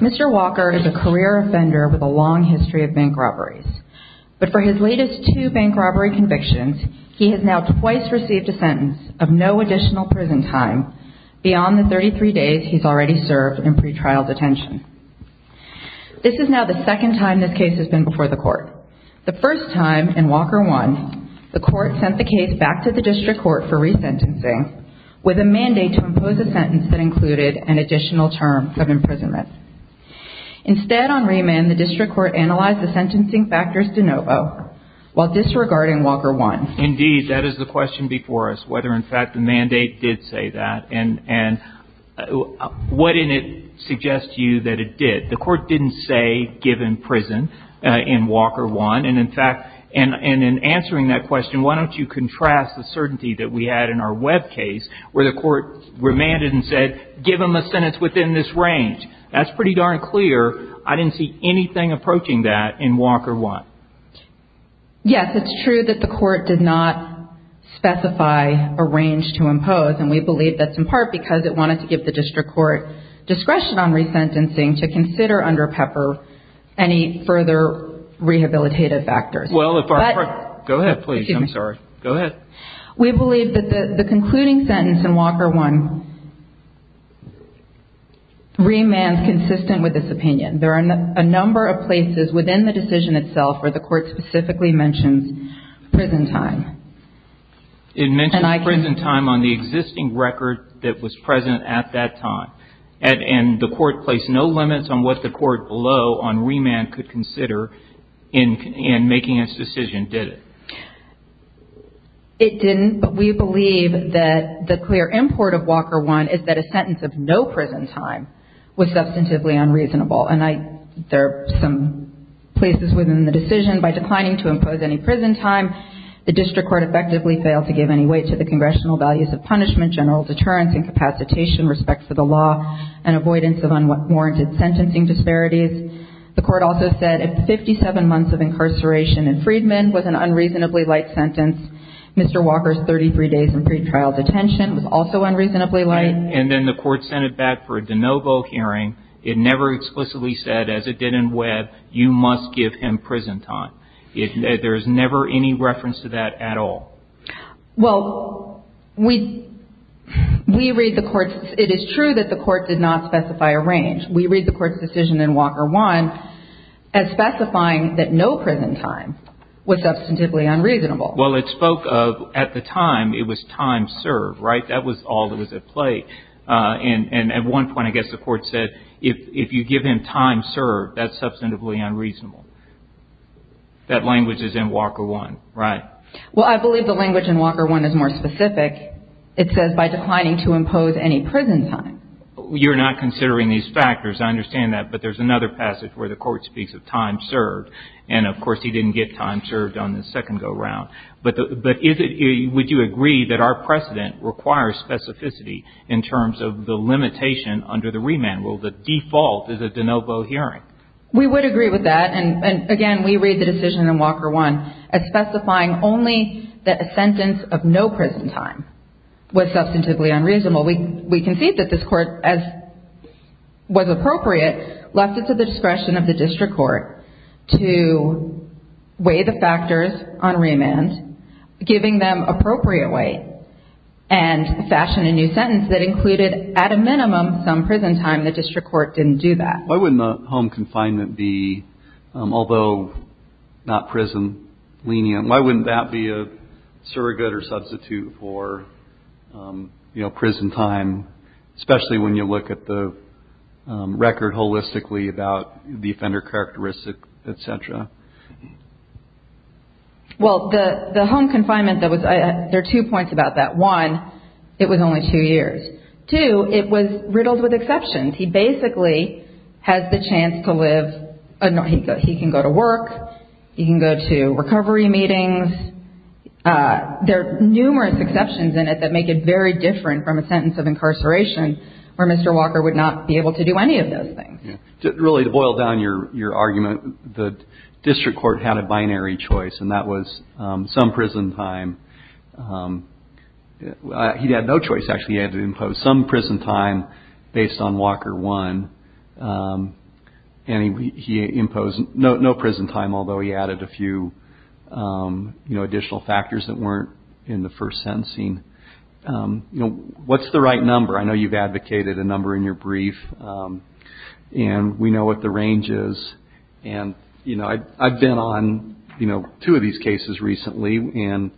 Mr. Walker is a career offender with a long history of bank robberies. But for his latest two bank robbery convictions, he has now twice received a sentence of no additional prison time beyond the 33 days he's already served in pre-trial detention. This is now the second time this case has been before the court. The first time, in Walker 1, the court sent the case back to the district court for resentencing with a mandate to impose a sentence that included an additional term of imprisonment. Instead, on remand, the district court analyzed the sentencing factors de novo while disregarding Walker 1. Indeed, that is the question before us, whether in fact the mandate did say that. And what in it suggests to you that it did? The court didn't say, give him prison in Walker 1. And in fact, in answering that question, why don't you contrast the certainty that we had in our Webb case where the court remanded and said, give him a sentence within this range. That's pretty darn clear. I didn't see anything approaching that in Walker 1. Yes, it's true that the court did not specify a range to impose. And we believe that's in part because it wanted to give the district court discretion on resentencing to consider under Pepper any further rehabilitative factors. Go ahead, please. I'm sorry. Go ahead. We believe that the concluding sentence in Walker 1 remands consistent with this opinion. There are a number of places within the decision itself where the court specifically mentions prison time. It mentioned prison time on the existing record that was present at that time. And the court placed no limits on what the court below on remand could consider in making its decision, did it? It didn't. But we believe that the clear import of Walker 1 is that a sentence of no prison time was substantively unreasonable. And there are some places within the decision. By declining to impose any prison time, the district court effectively failed to give any weight to the congressional values of punishment, general deterrence, incapacitation, respect for the law, and avoidance of unwarranted sentencing disparities. The court also said 57 months of incarceration in Freedman was an unreasonably light sentence. Mr. Walker's 33 days in pretrial detention was also unreasonably light. And then the court sent it back for a de novo hearing. It never explicitly said, as it did in Webb, you must give him prison time. There's never any reference to that at all. Well, we read the court's, it is true that the court did not specify a range. We read the court's decision in Walker 1 as specifying that no prison time was substantively unreasonable. Well, it spoke of, at the time, it was time served, right? That was all that was at play. And at one point, I guess the court said, if you give him time served, that's substantively unreasonable. That language is in Walker 1, right? Well, I believe the language in Walker 1 is more specific. It says, by declining to impose any prison time. You're not considering these factors. I understand that. But there's another passage where the court speaks of time served. And, of course, he didn't get time served on the second go-round. But is it, would you agree that our precedent requires specificity in terms of the limitation under the remand rule? The default is a de novo hearing. We would agree with that. And, again, we read the decision in Walker 1 as specifying only that a sentence of no prison time was substantively unreasonable. We concede that this court, as was appropriate, left it to the discretion of the district court to weigh the factors on remand, giving them appropriate weight, and fashion a new sentence that included, at a minimum, some prison time. The district court didn't do that. Why wouldn't home confinement be, although not prison lenient, why wouldn't that be a surrogate or substitute for, you know, prison time, especially when you look at the record holistically about the offender characteristic, et cetera? Well, the home confinement, there are two points about that. One, it was only two years. Two, it was riddled with exceptions. He basically has the chance to live, he can go to work, he can go to recovery meetings. There are numerous exceptions in it that make it very different from a sentence of incarceration where Mr. Walker would not be able to do any of those things. Really, to boil down your argument, the district court had a binary choice, and that was some prison time. He had no choice, actually. He had to impose some prison time based on Walker 1, and he imposed no prison time, although he added a few additional factors that weren't in the first sentencing. What's the right number? I know you've advocated a number in your brief, and we know what the range is. And, you know, I've been on, you know, two of these cases recently, and,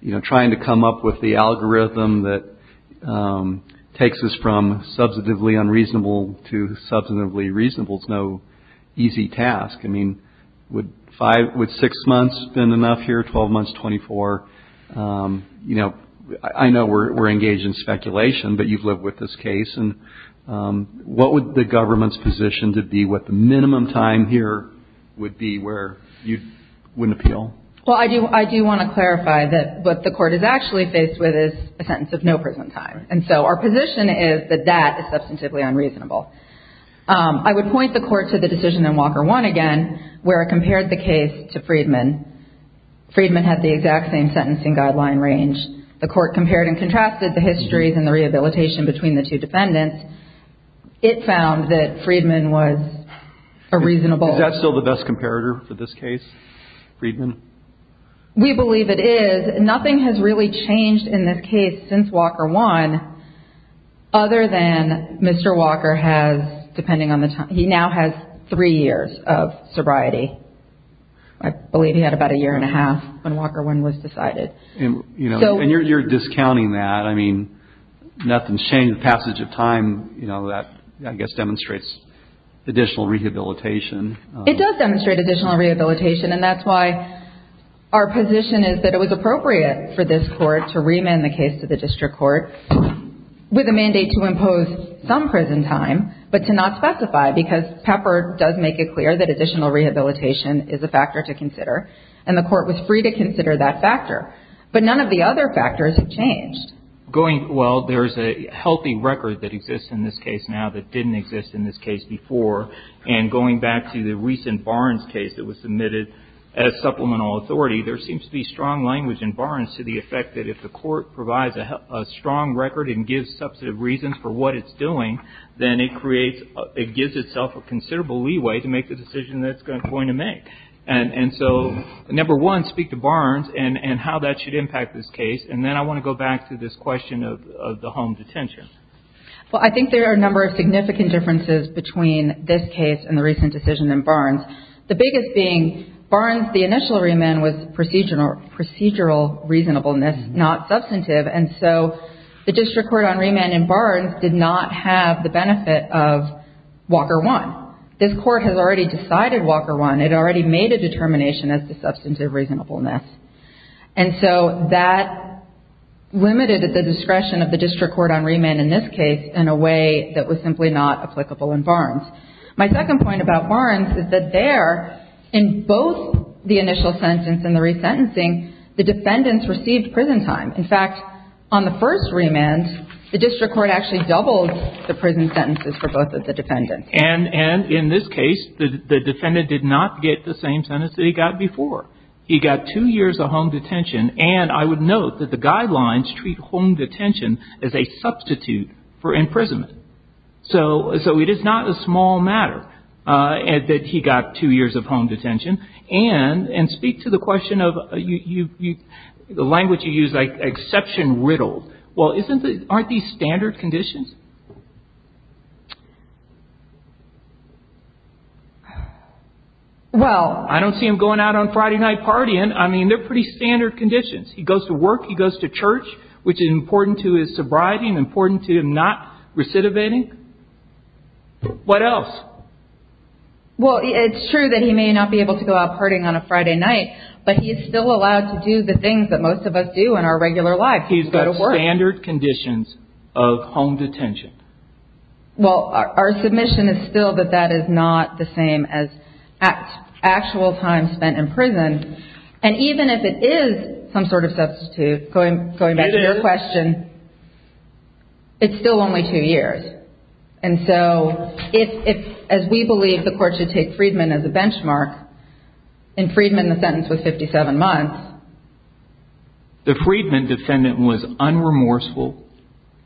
you know, trying to come up with the algorithm that takes us from substantively unreasonable to substantively reasonable is no easy task. I mean, would six months been enough here, 12 months, 24? You know, I know we're engaged in speculation, but you've lived with this case. And what would the government's position to be what the minimum time here would be where you wouldn't appeal? Well, I do want to clarify that what the court is actually faced with is a sentence of no prison time. And so our position is that that is substantively unreasonable. I would point the court to the decision in Walker 1 again where it compared the case to Friedman. Friedman had the exact same sentencing guideline range. The court compared and contrasted the histories and the rehabilitation between the two defendants. It found that Friedman was a reasonable. Is that still the best comparator for this case, Friedman? We believe it is. Nothing has really changed in this case since Walker 1 other than Mr. Walker has, depending on the time, he now has three years of sobriety. I believe he had about a year and a half when Walker 1 was decided. And you're discounting that. I mean, nothing's changed. The passage of time, you know, that I guess demonstrates additional rehabilitation. It does demonstrate additional rehabilitation. And that's why our position is that it was appropriate for this court to remand the case to the district court with a mandate to impose some prison time but to not specify because Pepper does make it clear that additional rehabilitation is a factor to consider. And the court was free to consider that factor. But none of the other factors have changed. Going, well, there's a healthy record that exists in this case now that didn't exist in this case before. And going back to the recent Barnes case that was submitted as supplemental authority, there seems to be strong language in Barnes to the effect that if the court provides a strong record and gives substantive reasons for what it's doing, then it creates, it gives itself a considerable leeway to make the decision that it's going to make. And so, number one, speak to Barnes and how that should impact this case. And then I want to go back to this question of the home detention. Well, I think there are a number of significant differences between this case and the recent decision in Barnes. The biggest being Barnes, the initial remand was procedural reasonableness, not substantive. And so the district court on remand in Barnes did not have the benefit of Walker 1. This court has already decided Walker 1. It already made a determination as to substantive reasonableness. And so that limited the discretion of the district court on remand in this case in a way that was simply not applicable in Barnes. My second point about Barnes is that there, in both the initial sentence and the resentencing, the defendants received prison time. In fact, on the first remand, the district court actually doubled the prison sentences for both of the defendants. And in this case, the defendant did not get the same sentence that he got before. He got two years of home detention. And I would note that the guidelines treat home detention as a substitute for imprisonment. So it is not a small matter that he got two years of home detention. And speak to the question of the language you use, like exception riddled. Well, aren't these standard conditions? Well, I don't see him going out on Friday night partying. I mean, they're pretty standard conditions. He goes to work. He goes to church, which is important to his sobriety and important to him not recidivating. What else? Well, it's true that he may not be able to go out partying on a Friday night, but he is still allowed to do the things that most of us do in our regular lives. He's got standard conditions of home detention. Well, our submission is still that that is not the same as actual time spent in prison. And even if it is some sort of substitute, going back to your question, it's still only two years. And so as we believe the court should take Freedman as a benchmark, in Freedman the sentence was 57 months. The Freedman defendant was unremorseful.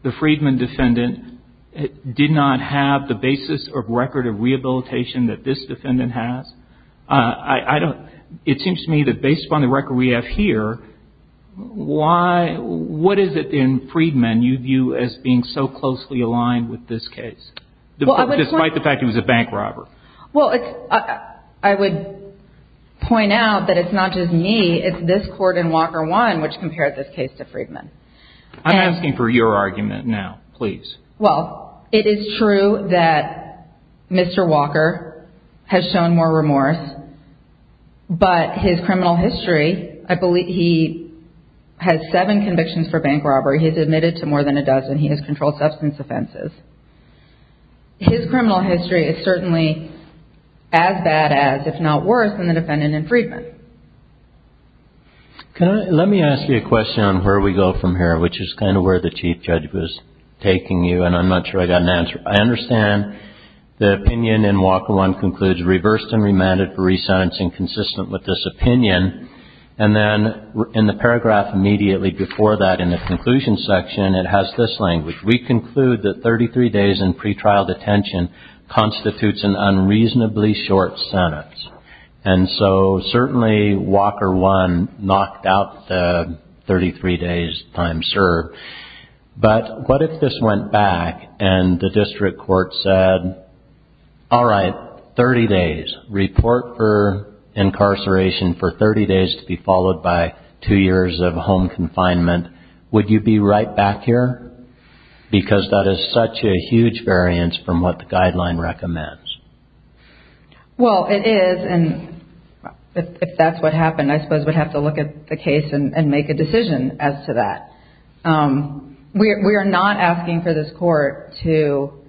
The Freedman defendant did not have the basis of record of rehabilitation that this defendant has. It seems to me that based upon the record we have here, what is it in Freedman you view as being so closely aligned with this case, despite the fact he was a bank robber? Well, I would point out that it's not just me. It's this court and Walker One which compared this case to Freedman. I'm asking for your argument now, please. Well, it is true that Mr. Walker has shown more remorse, but his criminal history, I believe he has seven convictions for bank robbery. He has admitted to more than a dozen. He has controlled substance offenses. His criminal history is certainly as bad as, if not worse, than the defendant in Freedman. Let me ask you a question on where we go from here, which is kind of where the Chief Judge was taking you, and I'm not sure I got an answer. I understand the opinion in Walker One concludes reversed and remanded for resentencing consistent with this opinion, and then in the paragraph immediately before that in the conclusion section, it has this language. We conclude that 33 days in pretrial detention constitutes an unreasonably short sentence. And so certainly Walker One knocked out the 33 days time served. But what if this went back and the district court said, all right, 30 days, report for incarceration for 30 days to be followed by two years of home confinement. Would you be right back here? Because that is such a huge variance from what the guideline recommends. Well, it is, and if that's what happened, I suppose we'd have to look at the case and make a decision as to that. We are not asking for this court to –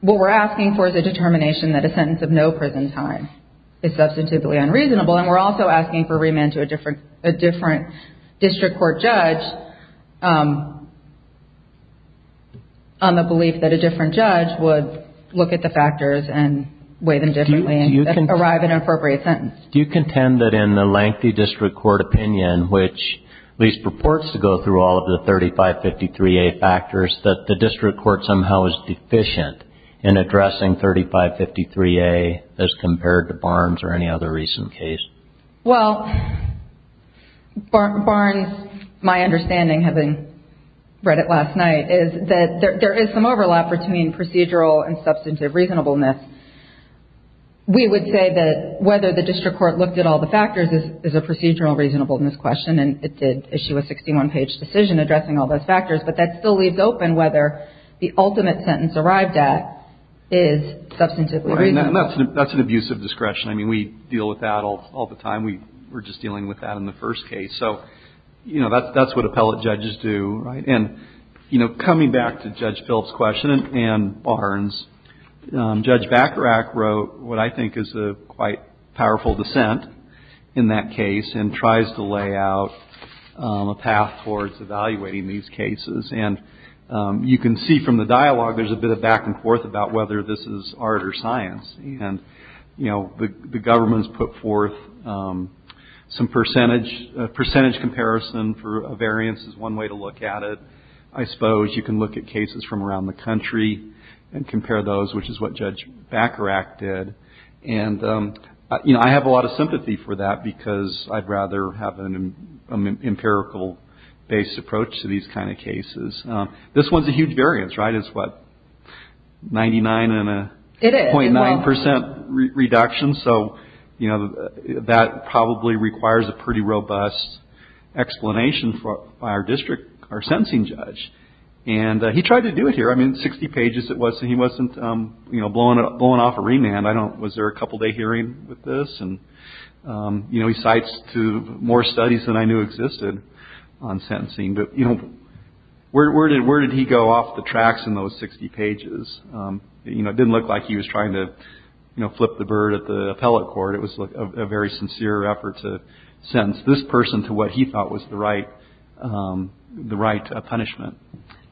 what we're asking for is a determination that a sentence of no prison time is substantively unreasonable, and we're also asking for remand to a different district court judge on the belief that a different judge would look at the factors and weigh them differently and arrive at an appropriate sentence. Do you contend that in the lengthy district court opinion, which at least purports to go through all of the 3553A factors, that the district court somehow is deficient in addressing 3553A as compared to Barnes or any other recent case? Well, Barnes, my understanding, having read it last night, is that there is some overlap between procedural and substantive reasonableness. We would say that whether the district court looked at all the factors is a procedural reasonableness question, and it did issue a 61-page decision addressing all those factors, but that still leaves open whether the ultimate sentence arrived at is substantively reasonable. Right, and that's an abusive discretion. I mean, we deal with that all the time. We were just dealing with that in the first case. So, you know, that's what appellate judges do, right? And, you know, coming back to Judge Philp's question and Barnes, Judge Bacharach wrote what I think is a quite powerful dissent in that case and tries to lay out a path towards evaluating these cases. And you can see from the dialogue there's a bit of back and forth about whether this is art or science. And, you know, the government's put forth some percentage, a percentage comparison for a variance is one way to look at it. I suppose you can look at cases from around the country and compare those, which is what Judge Bacharach did. And, you know, I have a lot of sympathy for that because I'd rather have an empirical-based approach to these kind of cases. This one's a huge variance, right? It's what, 99 and a 0.9 percent reduction. So, you know, that probably requires a pretty robust explanation by our district, our sentencing judge. And he tried to do it here. I mean, 60 pages it was, and he wasn't, you know, blowing off a remand. I don't know, was there a couple-day hearing with this? And, you know, he cites two more studies than I knew existed on sentencing. But, you know, where did he go off the tracks in those 60 pages? You know, it didn't look like he was trying to, you know, flip the bird at the appellate court. It was a very sincere effort to sentence this person to what he thought was the right punishment.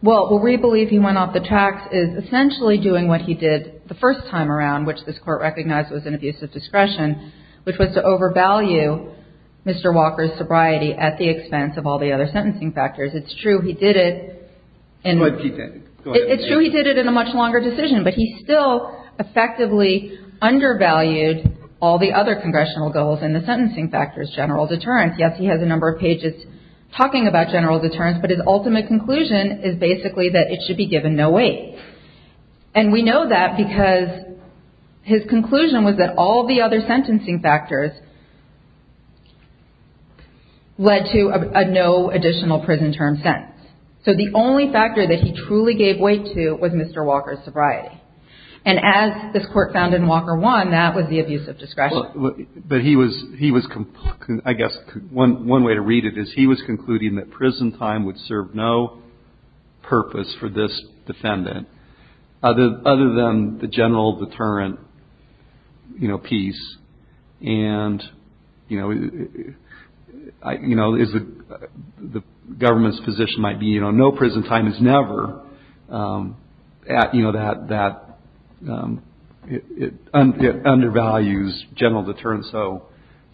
Well, what we believe he went off the tracks is essentially doing what he did the first time around, which was to overvalue Mr. Walker's sobriety at the expense of all the other sentencing factors. It's true he did it in a much longer decision, but he still effectively undervalued all the other congressional goals and the sentencing factors, general deterrence. Yes, he has a number of pages talking about general deterrence, but his ultimate conclusion is basically that it should be given no weight. And we know that because his conclusion was that all the other sentencing factors led to a no additional prison term sentence. So the only factor that he truly gave weight to was Mr. Walker's sobriety. And as this Court found in Walker 1, that was the abuse of discretion. But he was, I guess, one way to read it is he was concluding that prison time would serve no purpose for this defendant, other than the general deterrent, you know, piece. And, you know, the government's position might be, you know, no prison time is never, you know, that it undervalues general deterrence so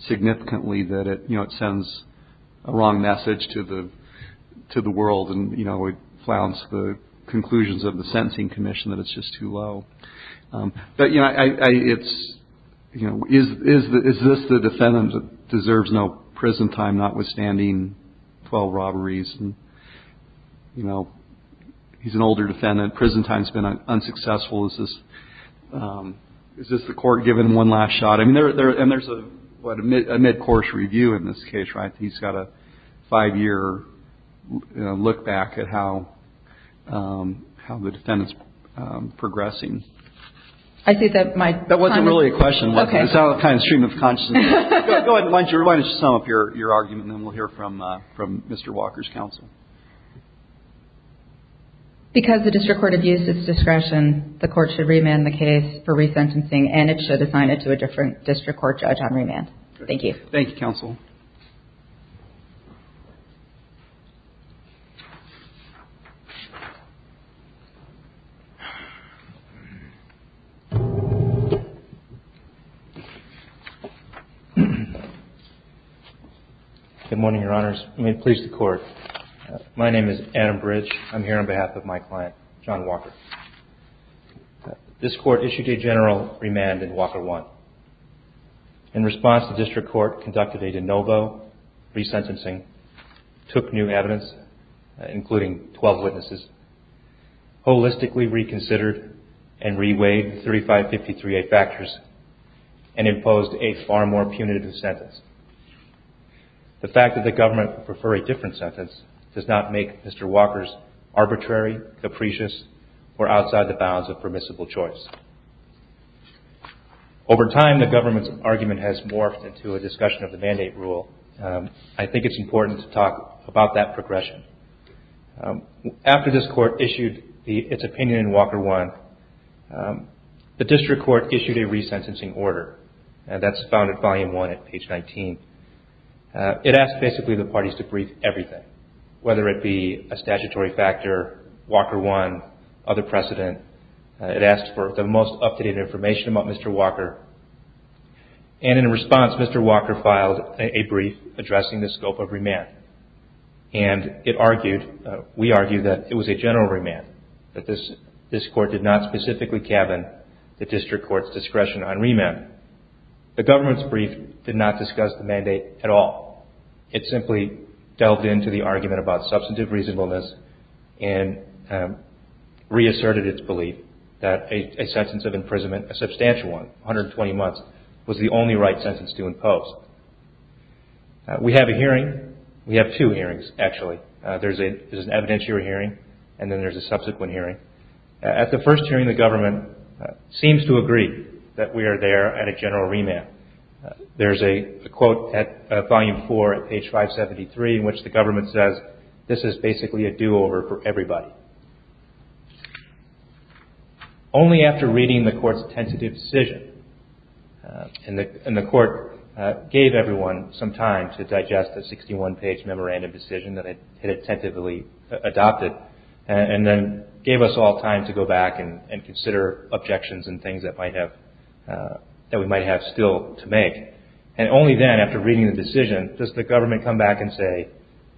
significantly that it, you know, it sends a wrong message to the world and, you know, it flouts the conclusions of the Sentencing Commission that it's just too low. But, you know, it's, you know, is this the defendant that deserves no prison time, notwithstanding 12 robberies? And, you know, he's an older defendant. Prison time's been unsuccessful. Is this the Court giving him one last shot? I mean, there's a mid-course review in this case, right? He's got a five-year look back at how the defendant's progressing. I think that my time is up. That wasn't really a question. Okay. It's kind of a stream of consciousness. Go ahead. I'd like to sum up your argument, and then we'll hear from Mr. Walker's counsel. Because the district court had used its discretion, the Court should remand the case for resentencing, and it should assign it to a different district court judge on remand. Thank you, counsel. Good morning, Your Honors. Let me please the Court. My name is Adam Bridge. I'm here on behalf of my client, John Walker. This Court issued a general remand in Walker 1. In response, the district court conducted a de novo resentencing, took new evidence, including 12 witnesses, holistically reconsidered and reweighed 3553A factors, and imposed a far more punitive sentence. The fact that the government would prefer a different sentence does not make Mr. Walker's arbitrary, capricious, or outside the bounds of permissible choice. Over time, the government's argument has morphed into a discussion of the mandate rule. I think it's important to talk about that progression. After this Court issued its opinion in Walker 1, the district court issued a resentencing order. That's found in Volume 1 at page 19. It asked basically the parties to brief everything, whether it be a statutory factor, Walker 1, other precedent. It asked for the most up-to-date information about Mr. Walker. And in response, Mr. Walker filed a brief addressing the scope of remand. And it argued, we argued, that it was a general remand, that this Court did not specifically cabin the district court's discretion on remand. The government's brief did not discuss the mandate at all. It simply delved into the argument about substantive reasonableness and reasserted its belief that a sentence of imprisonment, a substantial one, 120 months, was the only right sentence to impose. We have a hearing. We have two hearings, actually. There's an evidentiary hearing and then there's a subsequent hearing. At the first hearing, the government seems to agree that we are there at a general remand. There's a quote at Volume 4 at page 573 in which the government says, this is basically a do-over for everybody. Only after reading the Court's tentative decision, and the Court gave everyone some time to digest the 61-page memorandum decision that it had tentatively adopted and then gave us all time to go back and consider objections and things that we might have still to make. And only then, after reading the decision, does the government come back and say,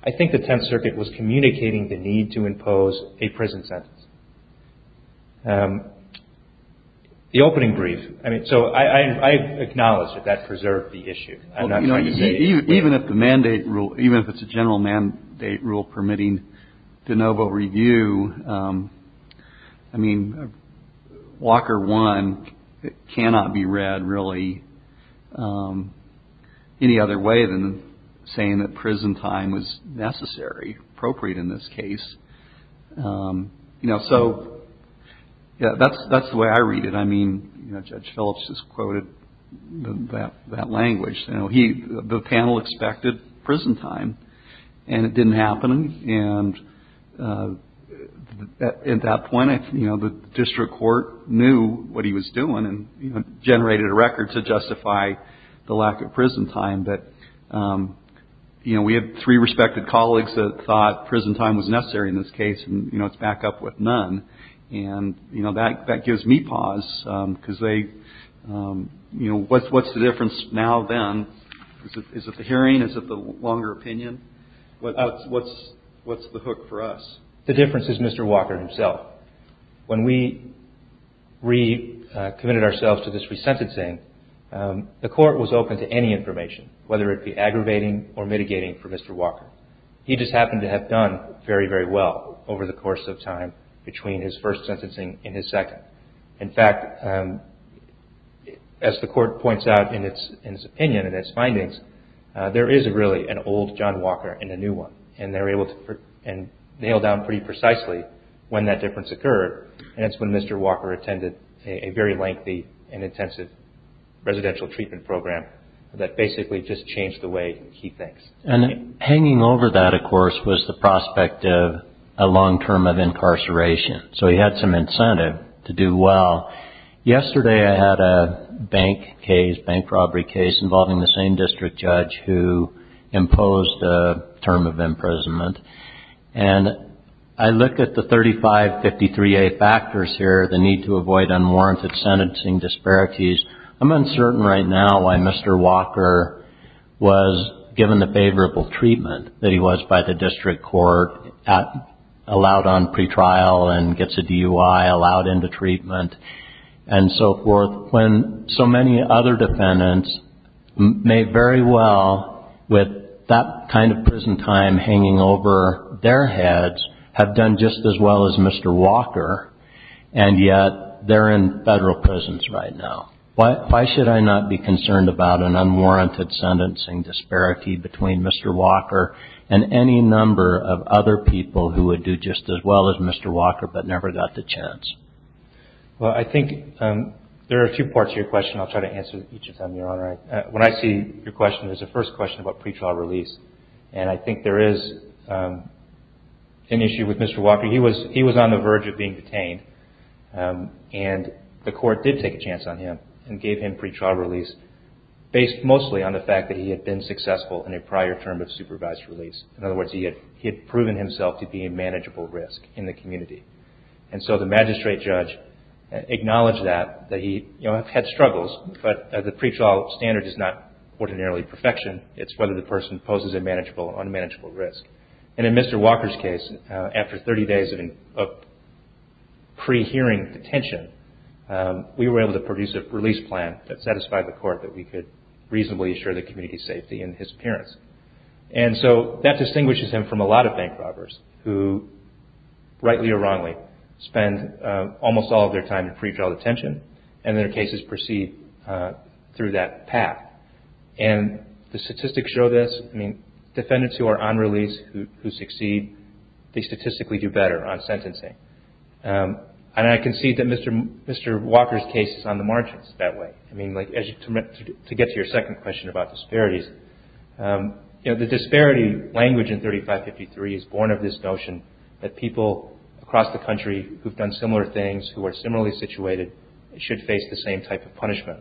I think the Tenth Circuit was communicating the need to impose a prison sentence. The opening brief, I mean, so I acknowledge that that preserved the issue. Even if the mandate rule, even if it's a general mandate rule permitting de novo review, I mean, Walker 1 cannot be read really any other way than saying that prison time was necessary, appropriate in this case. You know, so that's the way I read it. I mean, Judge Phillips has quoted that language. The panel expected prison time, and it didn't happen. And at that point, the district court knew what he was doing and generated a record to justify the lack of prison time. But we had three respected colleagues that thought prison time was necessary in this case, and it's back up with none. And, you know, that gives me pause because they, you know, what's the difference now then? Is it the hearing? Is it the longer opinion? What's the hook for us? The difference is Mr. Walker himself. When we recommitted ourselves to this resentencing, the court was open to any information, whether it be aggravating or mitigating for Mr. Walker. He just happened to have done very, very well over the course of time between his first sentencing and his second. In fact, as the court points out in its opinion and its findings, there is really an old John Walker and a new one, and they were able to nail down pretty precisely when that difference occurred, and it's when Mr. Walker attended a very lengthy and intensive residential treatment program that basically just changed the way he thinks. And hanging over that, of course, was the prospect of a long term of incarceration, so he had some incentive to do well. Yesterday I had a bank case, bank robbery case, involving the same district judge who imposed a term of imprisonment, and I looked at the 3553A factors here, the need to avoid unwarranted sentencing disparities. I'm uncertain right now why Mr. Walker was given the favorable treatment that he was by the district court, allowed on pretrial and gets a DUI, allowed into treatment, and so forth, when so many other defendants may very well, with that kind of prison time hanging over their heads, have done just as well as Mr. Walker, and yet they're in federal prisons right now. Why should I not be concerned about an unwarranted sentencing disparity between Mr. Walker and any number of other people who would do just as well as Mr. Walker but never got the chance? Well, I think there are a few parts to your question I'll try to answer each of them, Your Honor. When I see your question, there's a first question about pretrial release, and I think there is an issue with Mr. Walker. He was on the verge of being detained, and the court did take a chance on him and gave him pretrial release based mostly on the fact that he had been successful in a prior term of supervised release. In other words, he had proven himself to be a manageable risk in the community, and so the magistrate judge acknowledged that, that he had struggles, but the pretrial standard is not ordinarily perfection. It's whether the person poses a manageable or unmanageable risk, and in Mr. Walker's case, after 30 days of pre-hearing detention, we were able to produce a release plan that satisfied the court that we could reasonably assure the community's safety in his appearance. And so that distinguishes him from a lot of bank robbers who, rightly or wrongly, spend almost all of their time in pretrial detention, and their cases proceed through that path. And the statistics show this. I mean, defendants who are on release, who succeed, they statistically do better on sentencing. And I concede that Mr. Walker's case is on the margins that way. I mean, to get to your second question about disparities, you know, the disparity language in 3553 is born of this notion that people across the country who have done similar things, who are similarly situated, should face the same type of punishment.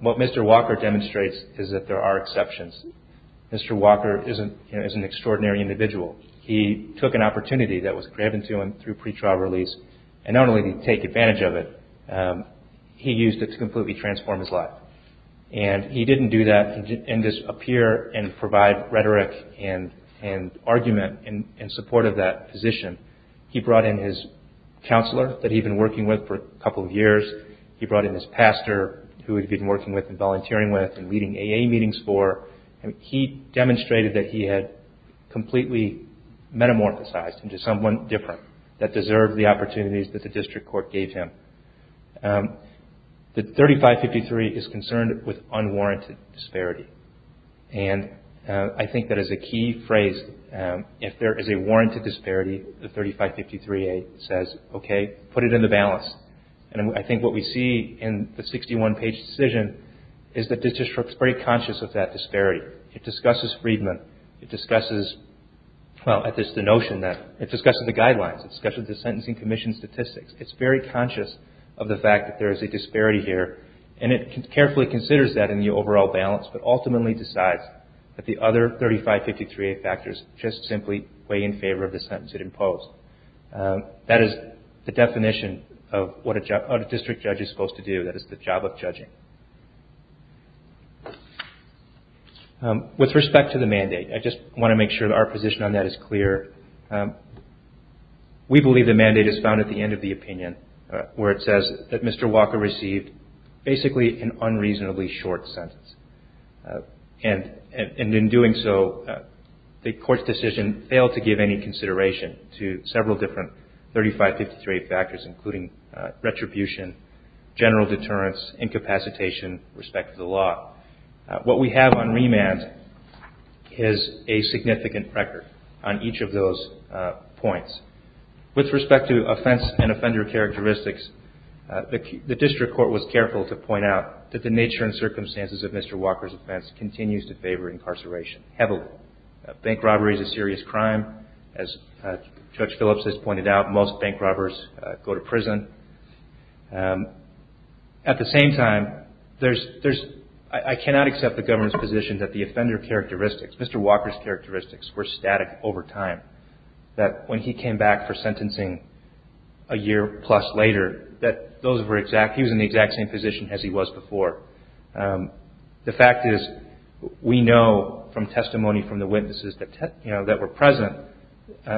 What Mr. Walker demonstrates is that there are exceptions. Mr. Walker is an extraordinary individual. He took an opportunity that was granted to him through pretrial release, and not only did he take advantage of it, he used it to completely transform his life. And he didn't do that in just appear and provide rhetoric and argument in support of that position. He brought in his counselor that he'd been working with for a couple of years. He brought in his pastor who he'd been working with and volunteering with and leading AA meetings for. And he demonstrated that he had completely metamorphosized into someone different that deserved the opportunities that the district court gave him. The 3553 is concerned with unwarranted disparity. And I think that is a key phrase. If there is a warranted disparity, the 3553A says, okay, put it in the balance. And I think what we see in the 61-page decision is that the district is very conscious of that disparity. It discusses Friedman. It discusses the guidelines. It discusses the Sentencing Commission statistics. It's very conscious of the fact that there is a disparity here. And it carefully considers that in the overall balance, but ultimately decides that the other 3553A factors just simply weigh in favor of the sentence it imposed. That is the definition of what a district judge is supposed to do. That is the job of judging. With respect to the mandate, I just want to make sure that our position on that is clear. We believe the mandate is found at the end of the opinion where it says that Mr. Walker received basically an unreasonably short sentence. And in doing so, the court's decision failed to give any consideration to several different 3553A factors, including retribution, general deterrence, incapacitation, respect to the law. What we have on remand is a significant record on each of those points. With respect to offense and offender characteristics, the district court was careful to point out that the nature and circumstances of Mr. Walker's offense continues to favor incarceration heavily. Bank robbery is a serious crime. As Judge Phillips has pointed out, most bank robbers go to prison. At the same time, I cannot accept the government's position that the offender characteristics, Mr. Walker's characteristics, were static over time. That when he came back for sentencing a year plus later, that those were exact, he was in the exact same position as he was before. The fact is, we know from testimony from the witnesses that were present,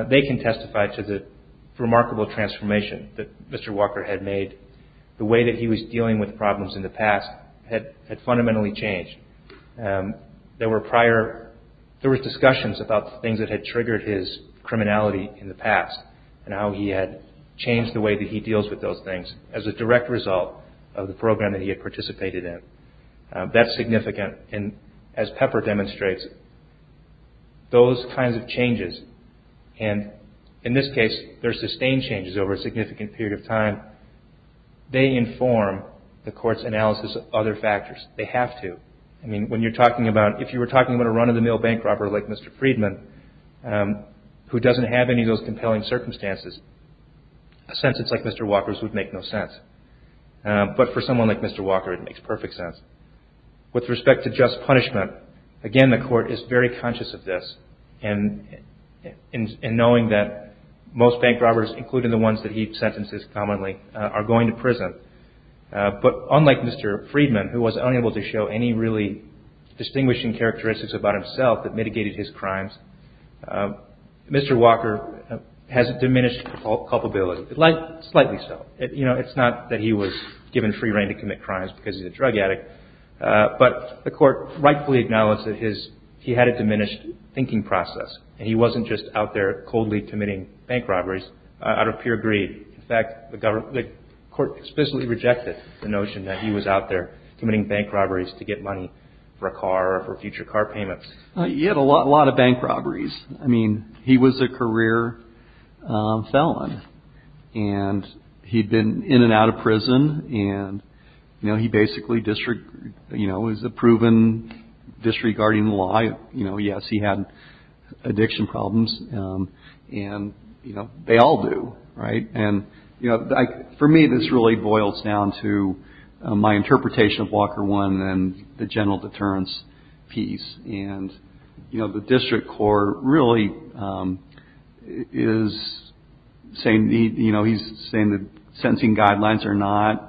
they can testify to the remarkable transformation that Mr. Walker had made. The way that he was dealing with problems in the past had fundamentally changed. There were prior, there were discussions about things that had triggered his criminality in the past and how he had changed the way that he deals with those things as a direct result of the program that he had participated in. That's significant. And as Pepper demonstrates, those kinds of changes, and in this case, they're sustained changes over a significant period of time, they inform the court's analysis of other factors. They have to. I mean, when you're talking about, if you were talking about a run-of-the-mill bank robber like Mr. Friedman, who doesn't have any of those compelling circumstances, a sentence like Mr. Walker's would make no sense. But for someone like Mr. Walker, it makes perfect sense. With respect to just punishment, again, the court is very conscious of this and knowing that most bank robbers, including the ones that he sentences commonly, are going to prison. But unlike Mr. Friedman, who was unable to show any really distinguishing characteristics about himself that mitigated his crimes, Mr. Walker has diminished culpability. Slightly so. It's not that he was given free reign to commit crimes because he's a drug addict, but the court rightfully acknowledged that he had a diminished thinking process and he wasn't just out there coldly committing bank robberies out of pure greed. In fact, the court explicitly rejected the notion that he was out there committing bank robberies to get money for a car or for future car payments. He had a lot of bank robberies. I mean, he was a career felon. And he'd been in and out of prison. And he basically is a proven disregarding the law. Yes, he had addiction problems. And they all do, right? And for me, this really boils down to my interpretation of Walker 1 and the general deterrence piece. You know, the district court really is saying, you know, he's saying that sentencing guidelines are not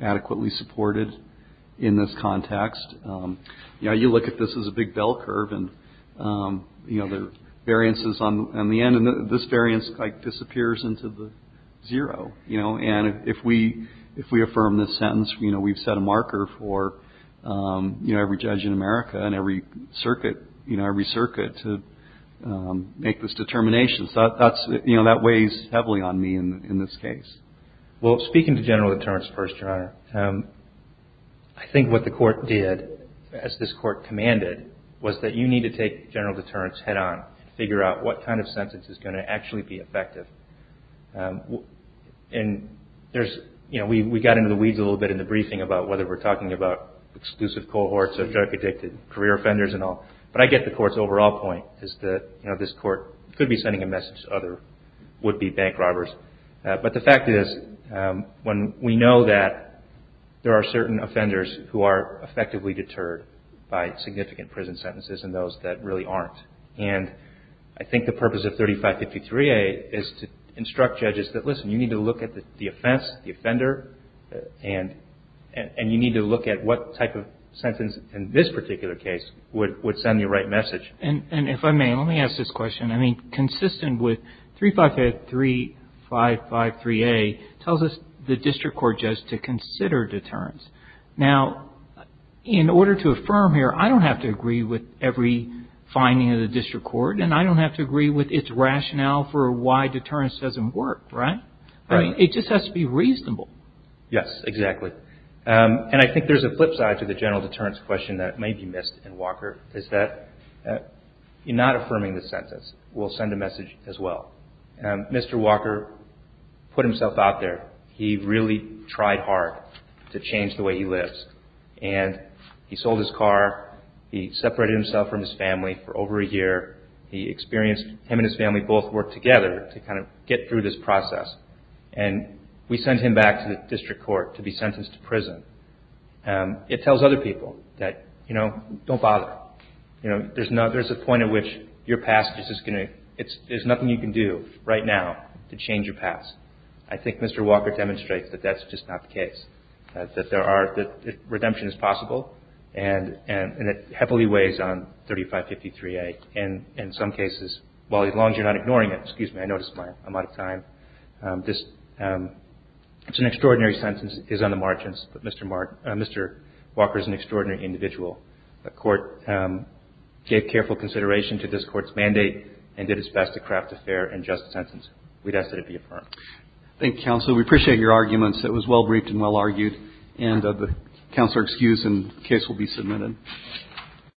adequately supported in this context. You know, you look at this as a big bell curve and, you know, there are variances on the end, and this variance, like, disappears into the zero. You know, and if we affirm this sentence, you know, we've set a marker for, you know, every judge in America and every circuit, you know, every circuit to make this determination. So that's, you know, that weighs heavily on me in this case. Well, speaking to general deterrence first, Your Honor, I think what the court did, as this court commanded, was that you need to take general deterrence head on and figure out what kind of sentence is going to actually be effective. And there's, you know, we got into the weeds a little bit in the briefing about whether we're talking about exclusive cohorts or drug-addicted career offenders and all. But I get the court's overall point is that, you know, this court could be sending a message to other would-be bank robbers. But the fact is, when we know that there are certain offenders who are effectively deterred by significant prison sentences and those that really aren't, and I think the purpose of 3553A is to instruct judges that, listen, you need to look at the offense, the offender, and you need to look at what type of sentence in this particular case would send the right message. And if I may, let me ask this question. I mean, consistent with 3553A tells us the district court judge to consider deterrence. Now, in order to affirm here, I don't have to agree with every finding of the district court and I don't have to agree with its rationale for why deterrence doesn't work, right? I mean, it just has to be reasonable. Yes, exactly. And I think there's a flip side to the general deterrence question that may be missed in Walker, is that in not affirming the sentence will send a message as well. Mr. Walker put himself out there. He really tried hard to change the way he lives. And he sold his car. He separated himself from his family for over a year. He experienced him and his family both work together to kind of get through this process. And we sent him back to the district court to be sentenced to prison. It tells other people that, you know, don't bother. You know, there's a point at which your past is just going to, there's nothing you can do right now to change your past. I think Mr. Walker demonstrates that that's just not the case. That there are, that redemption is possible. And it heavily weighs on 3553A. And in some cases, while as long as you're not ignoring it, excuse me, I noticed I'm out of time. This is an extraordinary sentence. It is on the margins, but Mr. Mark, Mr. Walker is an extraordinary individual. The court gave careful consideration to this court's mandate and did its best to craft a fair and just sentence. We'd ask that it be affirmed. Thank you, counsel. We appreciate your arguments. It was well briefed and well argued. And the counsel are excused and the case will be submitted.